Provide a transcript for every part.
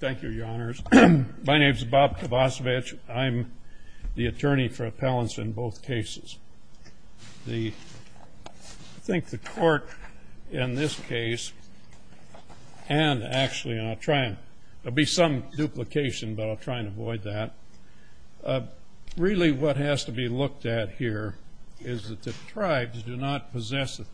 Thank you, Your Honors. My name is Bob Kovacevic. I'm the attorney for appellants in both cases. I think the court in this case, and actually, and I'll try, there'll be some duplication, but I'll try and avoid that. Really what has to be looked at here is that the tribes do not there is no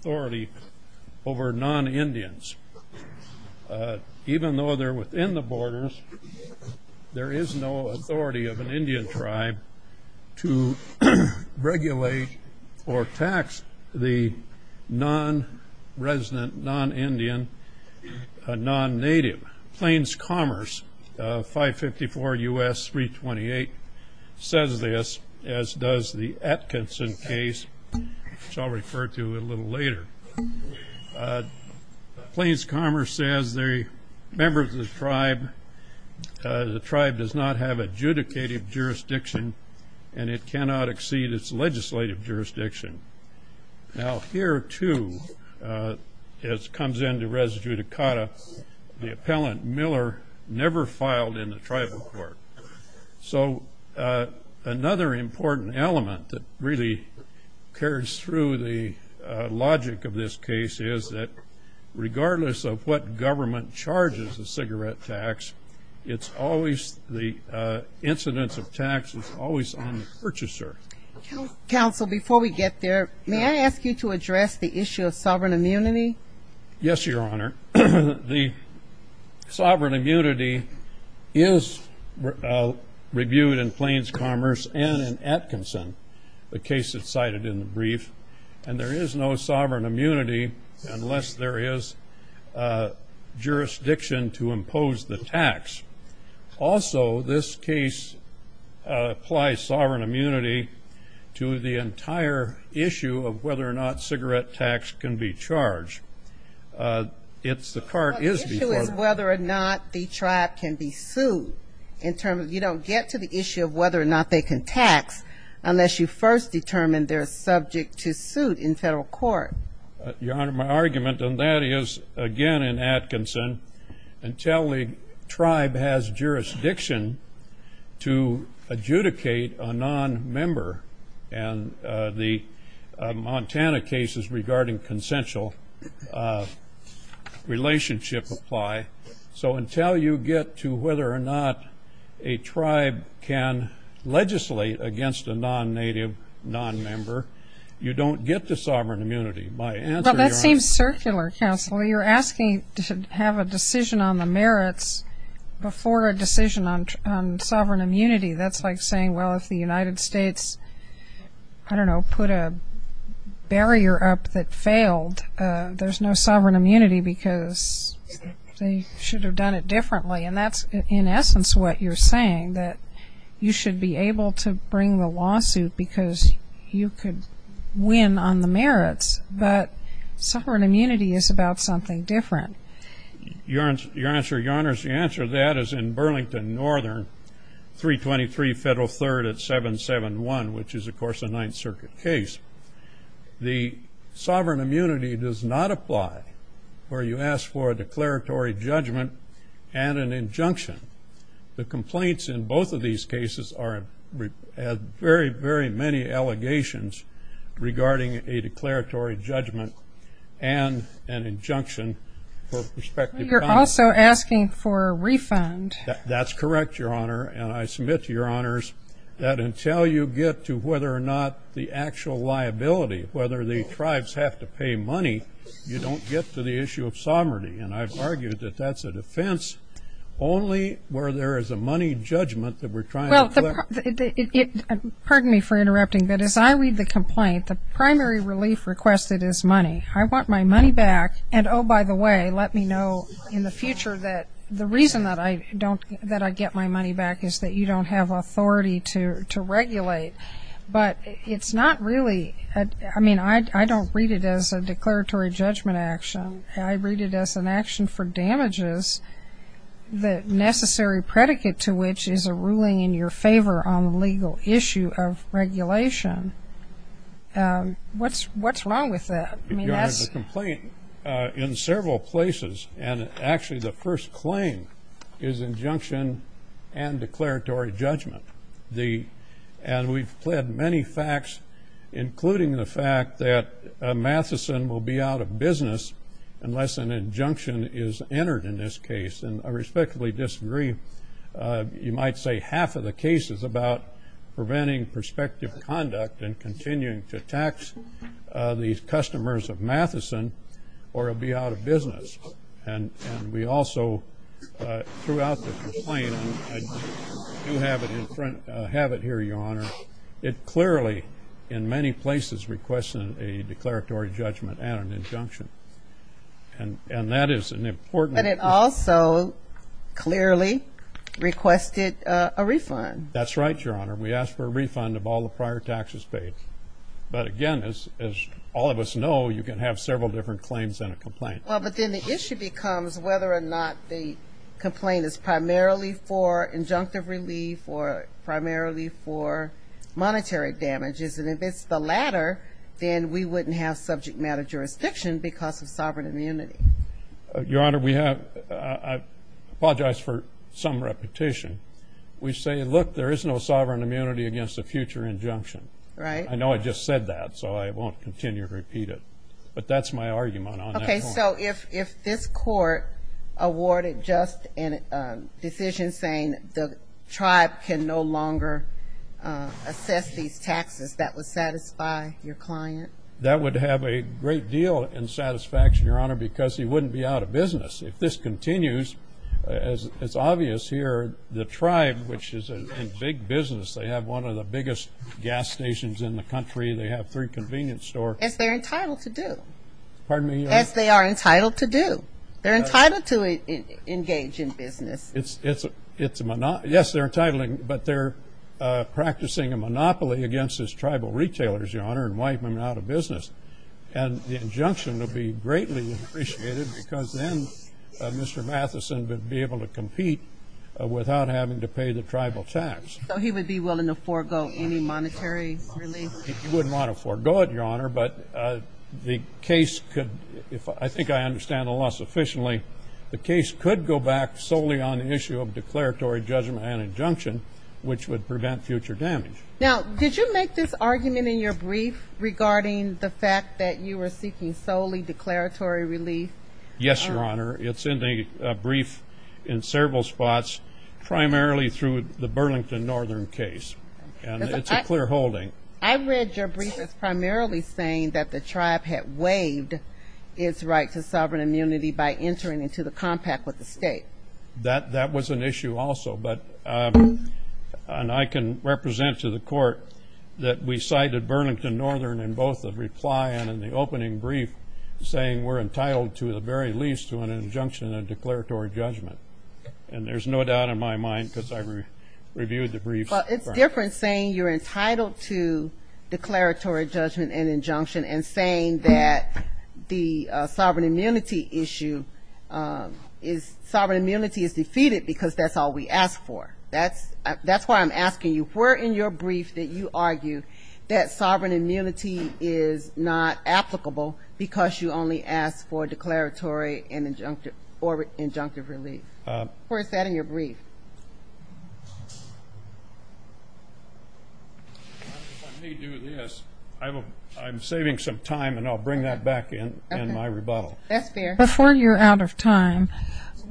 authority of an Indian tribe to regulate or tax the non-resident, non-Indian, non-native. Plains Commerce 554 U.S. 328 says this, as does the Atkinson case, which I'll refer to a little later. Plains Commerce says they're members of the tribe. The tribe does not have adjudicative jurisdiction, and it cannot exceed its legislative jurisdiction. Now here, too, as comes into res judicata, the appellant Miller never filed in the tribal court. So another important element that really carries through the logic of this case is that regardless of what government charges the cigarette tax, it's always the incidence of tax is always on the purchaser. Counsel, before we get there, may I ask you to address the issue of sovereign immunity? Yes, Your Honor. The sovereign immunity is reviewed in Plains Commerce and in Atkinson, the case that's cited in the brief, and there is no sovereign immunity unless there is jurisdiction to impose the tax. Also, this case applies sovereign immunity to the entire issue of whether or not cigarette tax can be charged. It's the part is whether or not the tribe can be sued in terms of you don't get to the issue of whether or not they can tax unless you first determine they're subject to suit in federal court. Your Honor, my argument on that is, again, in Atkinson, until the tribe has jurisdiction to adjudicate a non-member, and the Montana cases regarding consensual relationship apply, so until you get to whether or not a tribe can legislate against a non-native, non-member, you don't get the sovereign immunity. My answer, Your Honor... Well, that seems circular, Counsel. You're asking to have a decision on the merits before a decision on sovereign immunity. That's like saying, well, if the United States, I don't know, put a barrier up that failed, there's no sovereign immunity because they should have done it differently, and that's, in essence, what you're saying, that you should be able to bring the lawsuit because you could win on the merits, but Your Honor, the answer to that is in Burlington Northern, 323 Federal 3rd at 771, which is, of course, a Ninth Circuit case. The sovereign immunity does not apply where you ask for a declaratory judgment and an injunction. The complaints in both of these cases are very, very many allegations regarding a declaratory judgment and an injunction for prospective... You're also asking for a refund. That's correct, Your Honor, and I submit to Your Honors that until you get to whether or not the actual liability, whether the tribes have to pay money, you don't get to the issue of sovereignty, and I've argued that that's a defense only where there is a money judgment that we're trying to... Pardon me for interrupting, but as I read the complaint, the primary relief requested is money. I want my money back, and, oh, by the way, let me know in the future that the reason that I don't, that I get my money back is that you don't have authority to regulate, but it's not really... I mean, I don't read it as a declaratory judgment action. I read it as an action for damages, the necessary predicate to which is a ruling in your favor on the legal issue of regulation. What's wrong with that? Your Honor, the complaint in several places, and actually the first claim is injunction and declaratory judgment, and we've pled many facts, including the fact that Matheson will be out of business unless an injunction is entered in this case, and I respectfully disagree. You might say half of the case is about preventing prospective conduct and continuing to tax these customers of Matheson, or it'll be out of business, and we also, throughout the complaint, and I do have it in front, have it here, Your Honor, it clearly, in many places, requests a declaratory judgment and an injunction, and that is an important... But it also clearly requested a refund. That's right, Your Honor. We asked for a refund of all the prior taxes paid, but again, as all of us know, you can have several different claims in a complaint. Well, but then the issue becomes whether or not the complaint is primarily for injunctive relief or primarily for monetary damages, and if it's the latter, then we wouldn't have subject matter jurisdiction because of sovereign immunity. Your Honor, we have... I apologize for some repetition. We say, look, there is no sovereign immunity against a future injunction. Right. I know I just said that, so I won't continue to repeat it, but that's my argument on that point. Okay, so if this court awarded just a decision saying the tribe can no longer assess these taxes, that would satisfy your client? That would have a great deal in satisfaction, Your Honor, because he wouldn't be out of business. If this continues, as it's obvious here, the tribe, which is a big business, they have one of the biggest gas stations in the country. They have three convenience stores. As they're entitled to do. Pardon me? As they are entitled to do. They're entitled to engage in business. Yes, they're entitling, but they're practicing a monopoly against these tribal retailers, and wiping them out of business. And the injunction would be greatly appreciated because then Mr. Matheson would be able to compete without having to pay the tribal tax. So he would be willing to forego any monetary relief? He wouldn't want to forego it, Your Honor, but the case could... I think I understand the law sufficiently. The case could go back solely on the issue of declaratory judgment and injunction, which would prevent future damage. Now, did you make this argument in your brief regarding the fact that you were seeking solely declaratory relief? Yes, Your Honor. It's in the brief in several spots, primarily through the Burlington Northern case, and it's a clear holding. I read your brief as primarily saying that the tribe had waived its right to sovereign immunity by entering into the compact with the state. That was an issue also, but I can represent to the court that we cited Burlington Northern in both the reply and in the opening brief saying we're entitled to the very least to an injunction and declaratory judgment. And there's no doubt in my mind because I reviewed the brief. But it's different saying you're entitled to declaratory judgment and injunction and saying that the sovereign immunity issue is... Sovereign immunity is defeated because that's all we ask for. That's why I'm asking you, where in your brief did you argue that sovereign immunity is not applicable because you only ask for declaratory or injunctive relief? Where is that in your brief? If I may do this, I'm saving some time and I'll bring that back in in my rebuttal. That's fair. Before you're out of time,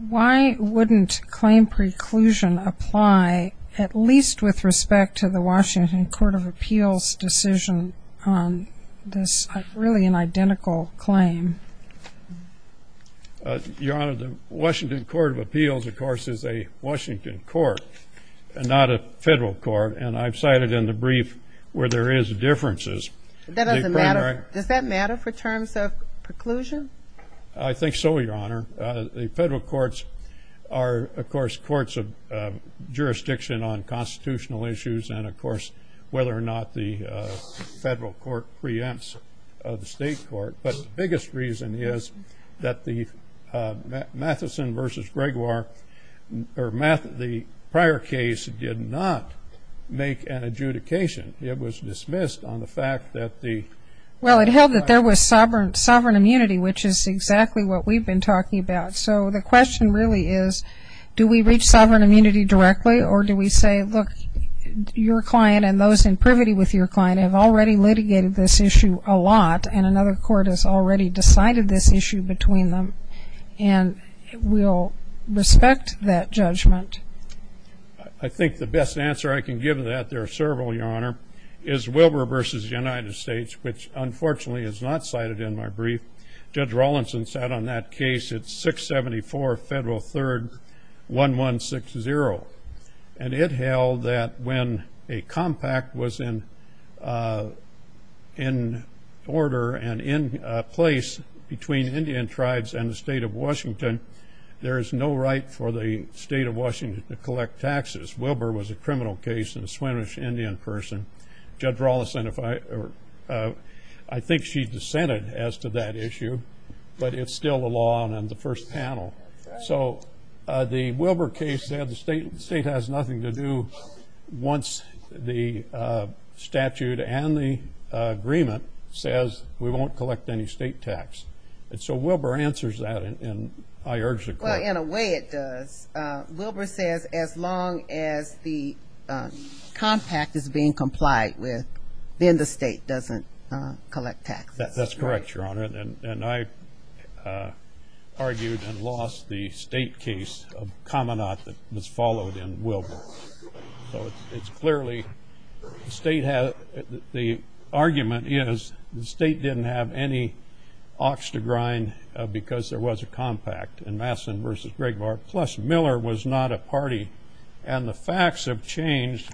why wouldn't claim preclusion apply at least with respect to the Washington Court of Appeals decision on this really an identical claim? Your Honor, the Washington Court of Appeals, of course, is a Washington court and not a federal court. And I've cited in the brief where there is differences. That doesn't matter. Does that matter for terms of preclusion? I think so, Your Honor. The federal courts are, of course, courts of jurisdiction on constitutional issues and, of course, whether or not the federal court preempts the state court. But the biggest reason is that the Matheson v. Gregoire, or the prior case, did not make an adjudication. It was dismissed on the fact that the- Well, it held that there was sovereign immunity, which is exactly what we've been talking about. So the question really is, do we reach sovereign immunity directly or do we say, look, your client and those in privity with your client have already litigated this issue a lot and another court has already decided this issue between them and will respect that judgment? I think the best answer I can give to that, there are several, Your Honor, is Wilbur v. United States, which, unfortunately, is not cited in my brief. Judge Rawlinson sat on that case. It's 674 Federal 3rd 1160. And it held that when a compact was in order and in place between Indian tribes and the state of Washington, there is no right for the state of Washington to collect taxes. Wilbur was a criminal case and a Swinomish Indian person. Judge Rawlinson, I think she dissented as to that issue, but it's still a law on the first panel. So the Wilbur case said the state has nothing to do once the statute and the agreement says we won't collect any state tax. And so Wilbur answers that, and I urge the court. Well, in a way it does. Wilbur says as long as the compact is being complied with, then the state doesn't collect taxes. That's correct, Your Honor. And I argued and lost the state case of Kamanath that was followed in Wilbur. So it's clearly the state has, the argument is the state didn't have any ox to grind because there was a compact in Madison v. Grigmore. Plus Miller was not a party. And the facts have changed.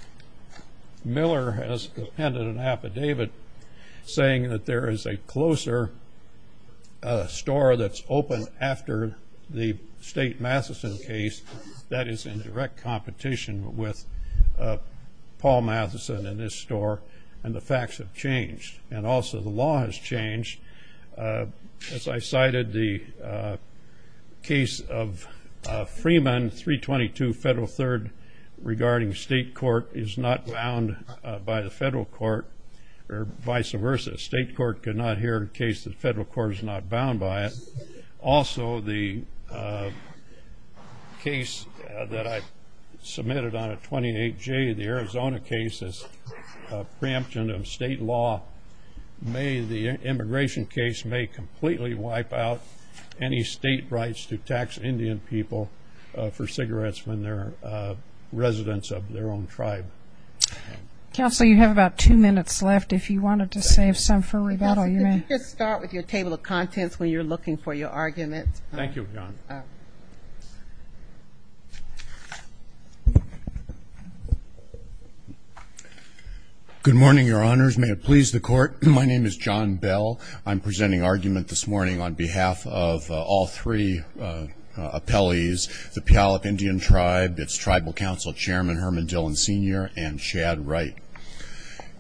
Miller has appended an affidavit saying that there is a closer store that's open after the state Matheson case that is in direct competition with Paul Matheson and his store, and the facts have changed. And also the law has changed. As I cited, the case of Freeman, 322 Federal Third, regarding state court is not bound by the federal court, or vice versa. State court could not hear a case that the federal court is not bound by it. Also the case that I submitted on a 28J, the Arizona case, is a preemption of state law. May the immigration case may completely wipe out any state rights to tax Indian people for cigarettes when they're residents of their own tribe. Counsel, you have about two minutes left. If you wanted to save some for rebuttal, you may. Counsel, could you just start with your table of contents when you're looking for your argument? Thank you, Your Honor. Good morning, Your Honors. May it please the court. My name is John Bell. I'm presenting argument this morning on behalf of all three appellees, the Puyallup Indian Tribe, its Tribal Council Chairman, Herman Dillon Sr., and Chad Wright.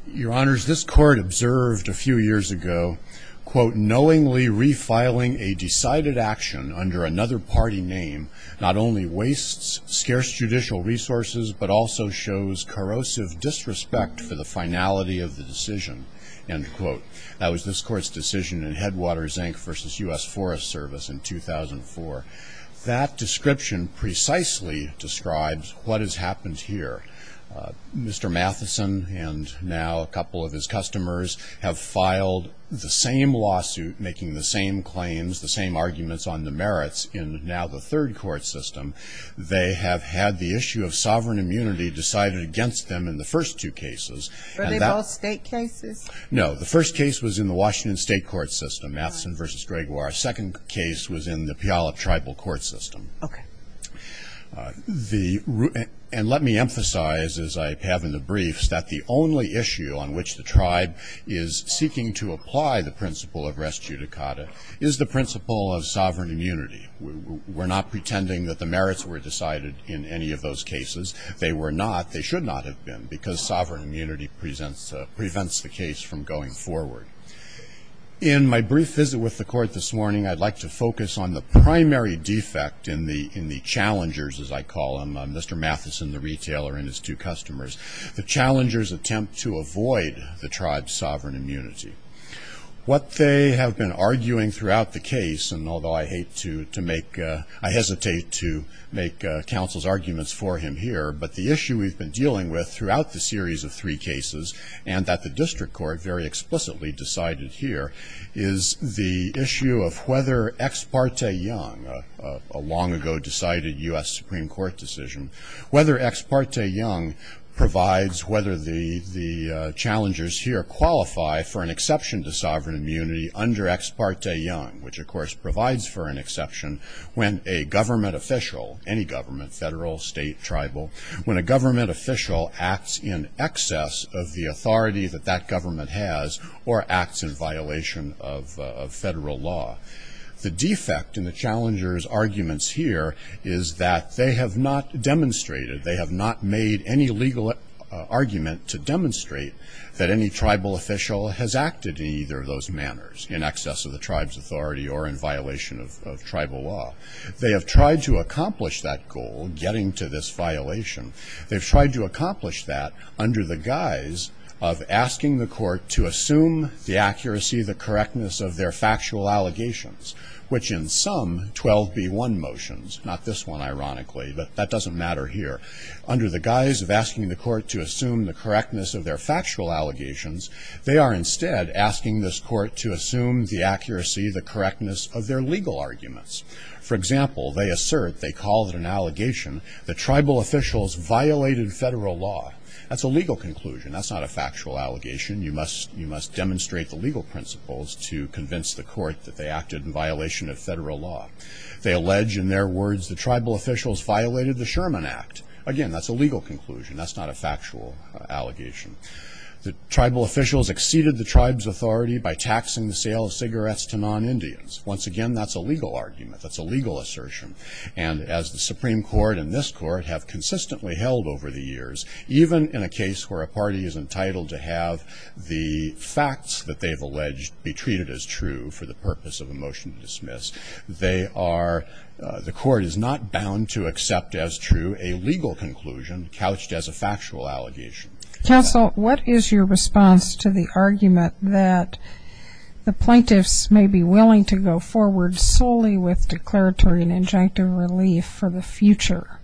Your Honors, this court observed a few years ago, quote, knowingly refiling a decided action under another party name not only wastes scarce judicial resources, but also shows corrosive disrespect for the finality of the decision, end quote. That was this court's decision in Headwaters, Inc. versus U.S. Forest Service in 2004. That description precisely describes what has happened here. Mr. Matheson and now a couple of his customers have filed the same lawsuit making the same claims, the same arguments on the merits in now the third court system. They have had the issue of sovereign immunity decided against them in the first two cases. Were they both state cases? No. The first case was in the Washington state court system, Matheson v. Gregoire. Second case was in the Puyallup tribal court system. And let me emphasize, as I have in the briefs, that the only issue on which the tribe is seeking to apply the principle of res judicata is the principle of sovereign immunity. We're not pretending that the merits were decided in any of those cases. They were not. They should not have been because sovereign immunity prevents the case from going forward. In my brief visit with the court this morning, I'd like to focus on the primary defect in the challengers, as I call them. Mr. Matheson, the retailer, and his two customers. The challengers attempt to avoid the tribe's sovereign immunity. What they have been arguing throughout the case, and although I hesitate to make counsel's arguments for him here, but the issue we've been dealing with throughout the series of three cases, and that the district court very explicitly decided here, is the issue of whether ex parte young, a long ago decided US Supreme Court decision, whether ex parte young provides whether the challengers here qualify for an exception to sovereign immunity under ex parte young, which of course provides for an exception when a government official, any government, federal, state, tribal, when a government official acts in excess of the authority that that government has or acts in violation of federal law. The defect in the challengers' arguments here is that they have not demonstrated, they have not made any legal argument to demonstrate that any tribal official has acted in either of those manners, in excess of the tribe's authority or in violation of tribal law. They have tried to accomplish that goal, getting to this violation. They've tried to accomplish that under the guise of asking the court to assume the accuracy, the correctness of their factual allegations, which in some 12b1 motions, not this one ironically, but that doesn't matter here. Under the guise of asking the court to assume the correctness of their factual allegations, they are instead asking this court to assume the accuracy, the correctness of their legal arguments. For example, they assert, they call it an allegation, the tribal officials violated federal law. That's a legal conclusion. That's not a factual allegation. You must demonstrate the legal principles to convince the court that they acted in violation of federal law. They allege, in their words, the tribal officials violated the Sherman Act. Again, that's a legal conclusion. That's not a factual allegation. The tribal officials exceeded the tribe's authority by taxing the sale of cigarettes to non-Indians. Once again, that's a legal argument. That's a legal assertion. And as the Supreme Court and this court have consistently held over the years, even in a case where a party is entitled to have the facts that they've alleged be treated as true for the purpose of a motion to dismiss, they are, the court is not bound to accept as true a legal conclusion couched as a factual allegation. Counsel, what is your response to the argument that the plaintiffs may be willing to go forward solely with declaratory and injunctive relief for the future?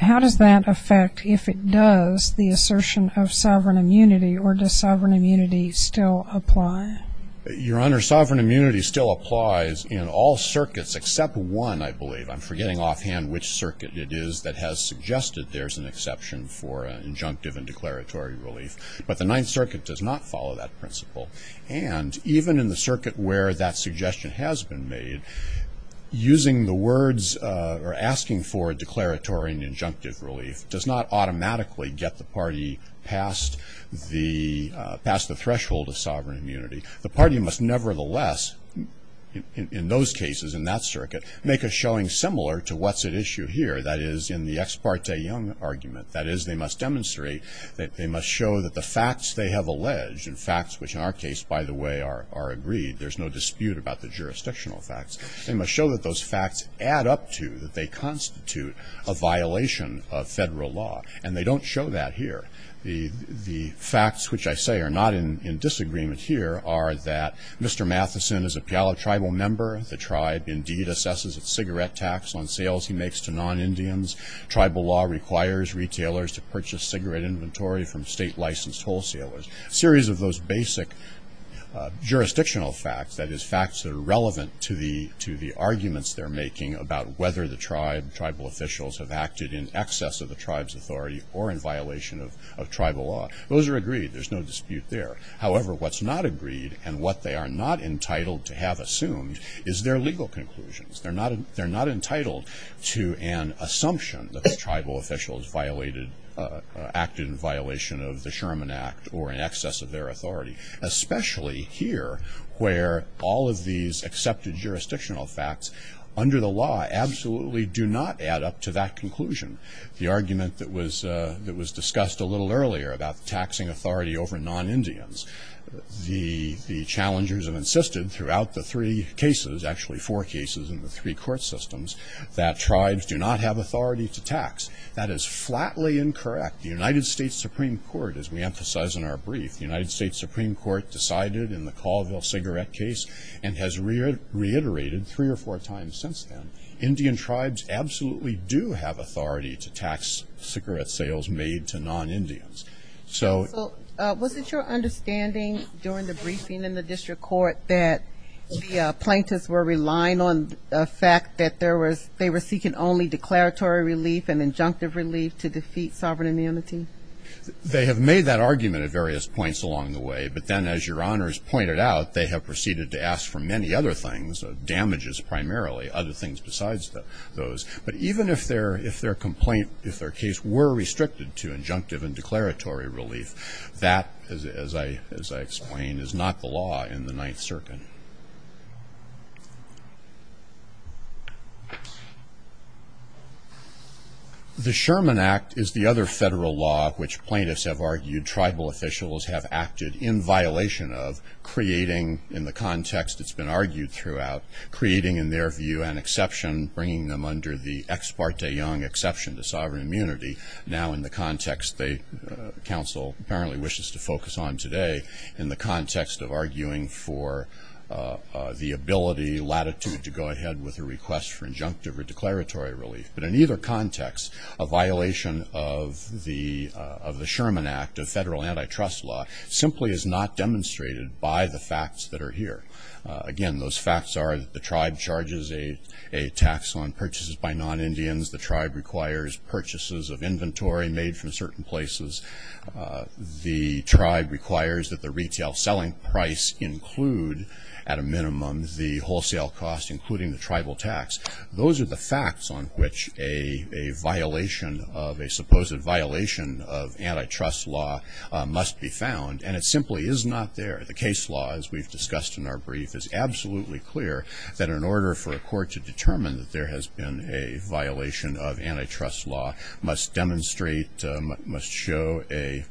How does that affect, if it does, the assertion of sovereign immunity, or does sovereign immunity still apply? Your Honor, sovereign immunity still applies in all circuits except one, I believe. I'm forgetting offhand which circuit it is that has suggested there's an exception for an injunctive and declaratory relief. But the Ninth Circuit does not follow that principle. And even in the circuit where that suggestion has been made, using the words, or asking for declaratory and injunctive relief does not automatically get the party past the threshold of sovereign immunity. The party must nevertheless, in those cases, in that circuit, make a showing similar to what's at issue here, that is, in the Ex parte Young argument. That is, they must demonstrate, they must show that the facts they have alleged, and facts which in our case, by the way, are agreed, there's no dispute about the jurisdictional facts. They must show that those facts add up to, that they constitute a violation of federal law. And they don't show that here. The facts which I say are not in disagreement here are that Mr. Matheson is a Puyallup tribal member. The tribe indeed assesses its cigarette tax on sales he makes to non-Indians. Tribal law requires retailers to purchase cigarette inventory from state-licensed wholesalers. Series of those basic jurisdictional facts, that is, facts that are relevant to the arguments they're making about whether the tribe, tribal officials, have acted in excess of the tribe's law. Those are agreed. There's no dispute there. However, what's not agreed, and what they are not entitled to have assumed, is their legal conclusions. They're not entitled to an assumption that the tribal officials violated, acted in violation of the Sherman Act, or in excess of their authority. Especially here, where all of these accepted jurisdictional facts, under the law, absolutely do not add up to that conclusion. The argument that was discussed a little earlier about taxing authority over non-Indians, the challengers have insisted throughout the three cases, actually four cases in the three court systems, that tribes do not have authority to tax. That is flatly incorrect. The United States Supreme Court, as we emphasize in our brief, the United States Supreme Court decided in the Colville cigarette case, and has reiterated three or four times since then, Indian tribes absolutely do have authority to tax cigarette sales made to non-Indians. So... So, was it your understanding during the briefing in the district court that the plaintiffs were relying on the fact that they were seeking only declaratory relief and injunctive relief to defeat sovereign immunity? They have made that argument at various points along the way. But then, as your honors pointed out, they have proceeded to ask for many other things, damages primarily, other things besides those. But even if their complaint, if their case were restricted to injunctive and declaratory relief, that, as I explained, is not the law in the Ninth Circuit. The Sherman Act is the other federal law which plaintiffs have argued tribal officials have creating in their view an exception, bringing them under the ex parte young exception to sovereign immunity. Now, in the context that counsel apparently wishes to focus on today, in the context of arguing for the ability, latitude to go ahead with a request for injunctive or declaratory relief. But in either context, a violation of the Sherman Act, a federal antitrust law, simply is not demonstrated by the facts that are here. Again, those facts are that the tribe charges a tax on purchases by non-Indians. The tribe requires purchases of inventory made from certain places. The tribe requires that the retail selling price include, at a minimum, the wholesale cost, including the tribal tax. Those are the facts on which a violation of a supposed violation of antitrust law must be found. And it simply is not there. The case law, as we've discussed in our brief, is absolutely clear that in order for a court to determine that there has been a violation of antitrust law must demonstrate, must show a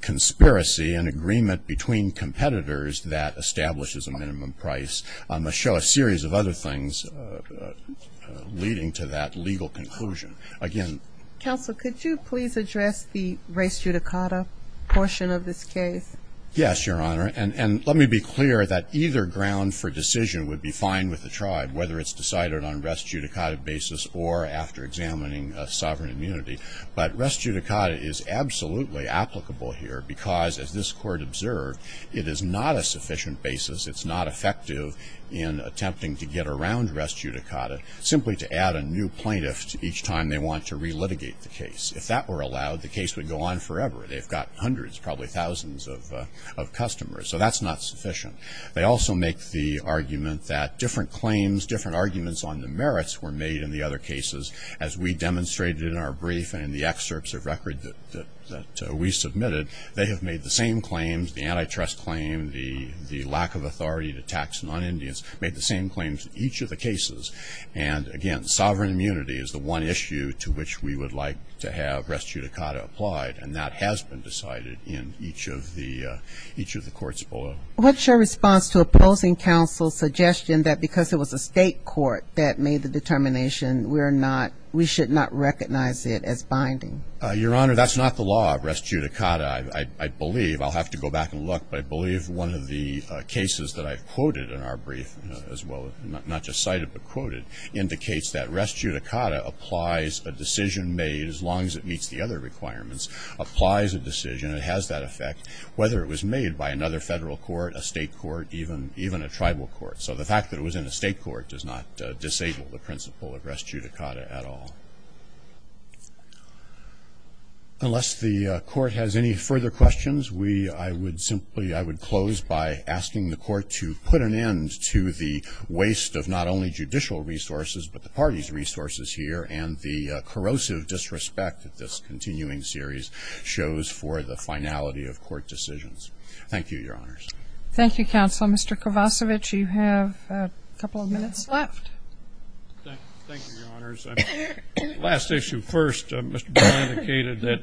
conspiracy, an agreement between competitors that establishes a minimum price, must show a series of other things leading to that legal conclusion. Again- Counsel, could you please address the res judicata portion of this case? Yes, Your Honor. And let me be clear that either ground for decision would be fine with the tribe, whether it's decided on res judicata basis or after examining sovereign immunity. But res judicata is absolutely applicable here because, as this Court observed, it is not a sufficient basis, it's not effective in attempting to get around res judicata, simply to add a new plaintiff each time they want to relitigate the case. If that were allowed, the case would go on forever. They've got hundreds, probably thousands of customers. So that's not sufficient. They also make the argument that different claims, different arguments on the merits were made in the other cases, as we demonstrated in our brief and in the excerpts of record that we submitted. They have made the same claims, the antitrust claim, the lack of authority to tax non-Indians, made the same claims in each of the cases. And again, sovereign immunity is the one issue to which we would like to have res judicata applied. And that has been decided in each of the courts below. What's your response to opposing counsel's suggestion that because it was a state court that made the determination, we should not recognize it as binding? Your Honor, that's not the law of res judicata, I believe. I'll have to go back and look. I believe one of the cases that I've quoted in our brief as well, not just cited but quoted, indicates that res judicata applies a decision made, as long as it meets the other requirements, applies a decision. It has that effect, whether it was made by another federal court, a state court, even a tribal court. So the fact that it was in a state court does not disable the principle of res judicata at all. Unless the court has any further questions, I would close by asking the court to put an end to the waste of not only judicial resources, but the party's resources here, and the corrosive disrespect that this continuing series shows for the finality of court decisions. Thank you, Your Honors. Thank you, Counsel. Mr. Kovacevic, you have a couple of minutes left. Thank you, Your Honors. Last issue first. Mr. Brown indicated that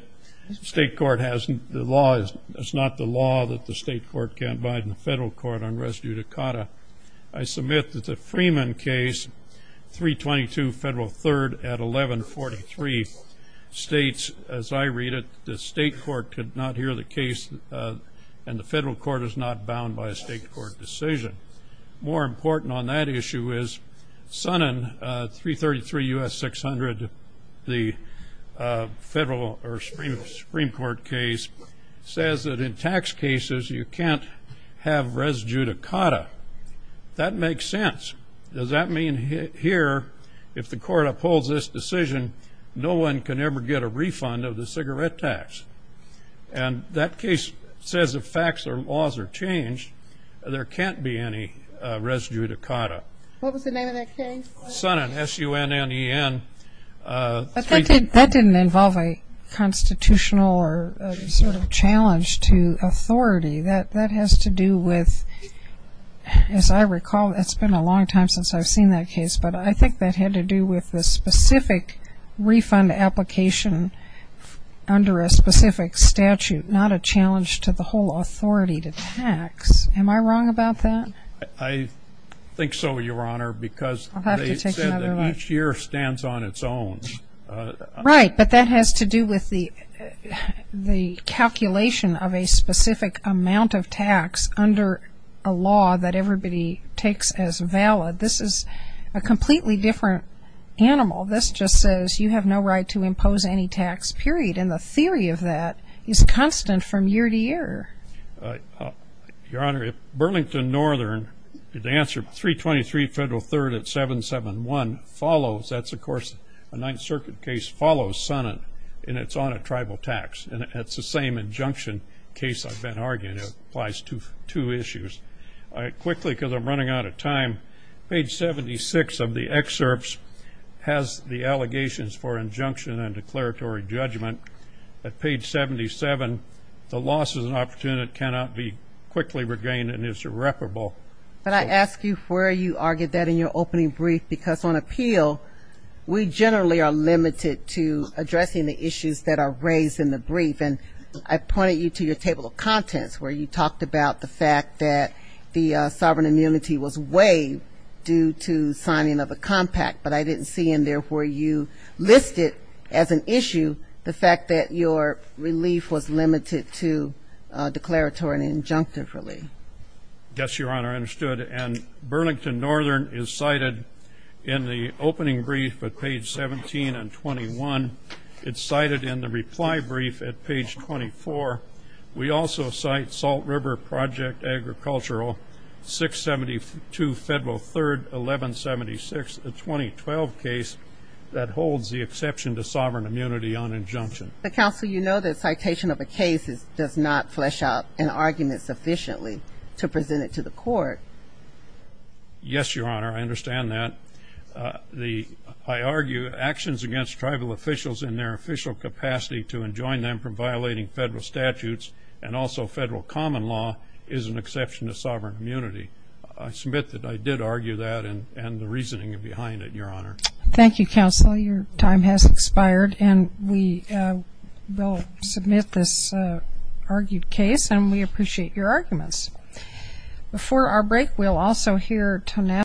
the state court has the law. It's not the law that the state court can't abide in the federal court on res judicata. I submit that the Freeman case, 322 Federal 3rd at 1143, states, as I read it, the state court could not hear the case, and the federal court is not bound by a state court decision. More important on that issue is Sonnen, 333 U.S. 600, the federal or Supreme Court case, says that in tax cases, you can't have res judicata. That makes sense. Does that mean here, if the court upholds this decision, no one can ever get a refund of the cigarette tax? And that case says if facts or laws are changed, there can't be any res judicata. What was the name of that case? Sonnen, S-U-N-N-E-N. That didn't involve a constitutional or sort of challenge to authority. That has to do with, as I recall, it's been a long time since I've seen that case, but I think that had to do with the specific refund application under a specific statute, not a challenge to the whole authority to tax. Am I wrong about that? I think so, Your Honor, because they said that each year stands on its own. Right, but that has to do with the calculation of a specific amount of tax under a law that everybody takes as valid. This is a completely different animal. This just says you have no right to impose any tax, period. And the theory of that is constant from year to year. Your Honor, Burlington Northern, the answer 323 Federal 3rd at 771 follows. That's, of course, a Ninth Circuit case follows Sonnen, and it's on a tribal tax. And it's the same injunction case I've been arguing. It applies to two issues. Quickly, because I'm running out of time, page 76 of the excerpts has the allegations for injunction and declaratory judgment. At page 77, the loss is an opportunity that cannot be quickly regained and is irreparable. But I ask you where you argued that in your opening brief, because on appeal, we generally are limited to addressing the issues that are raised in the brief. I pointed you to your table of contents where you talked about the fact that the sovereign immunity was waived due to signing of a compact. But I didn't see in there where you listed as an issue the fact that your relief was limited to declaratory and injunctive relief. Yes, Your Honor, I understood. And Burlington Northern is cited in the opening brief at page 17 and 21. It's cited in the reply brief at page 24. We also cite Salt River Project Agricultural 672 Federal 3rd 1176, a 2012 case that holds the exception to sovereign immunity on injunction. Counsel, you know that citation of a case does not flesh out an argument sufficiently to present it to the court. Yes, Your Honor, I understand that. I argue actions against tribal officials in their official capacity to enjoin them from violating federal statutes and also federal common law is an exception to sovereign immunity. I submit that I did argue that and the reasoning behind it, Your Honor. Thank you, Counsel. Your time has expired. And we will submit this argued case. And we appreciate your arguments. Before our break, we'll also hear Tonella.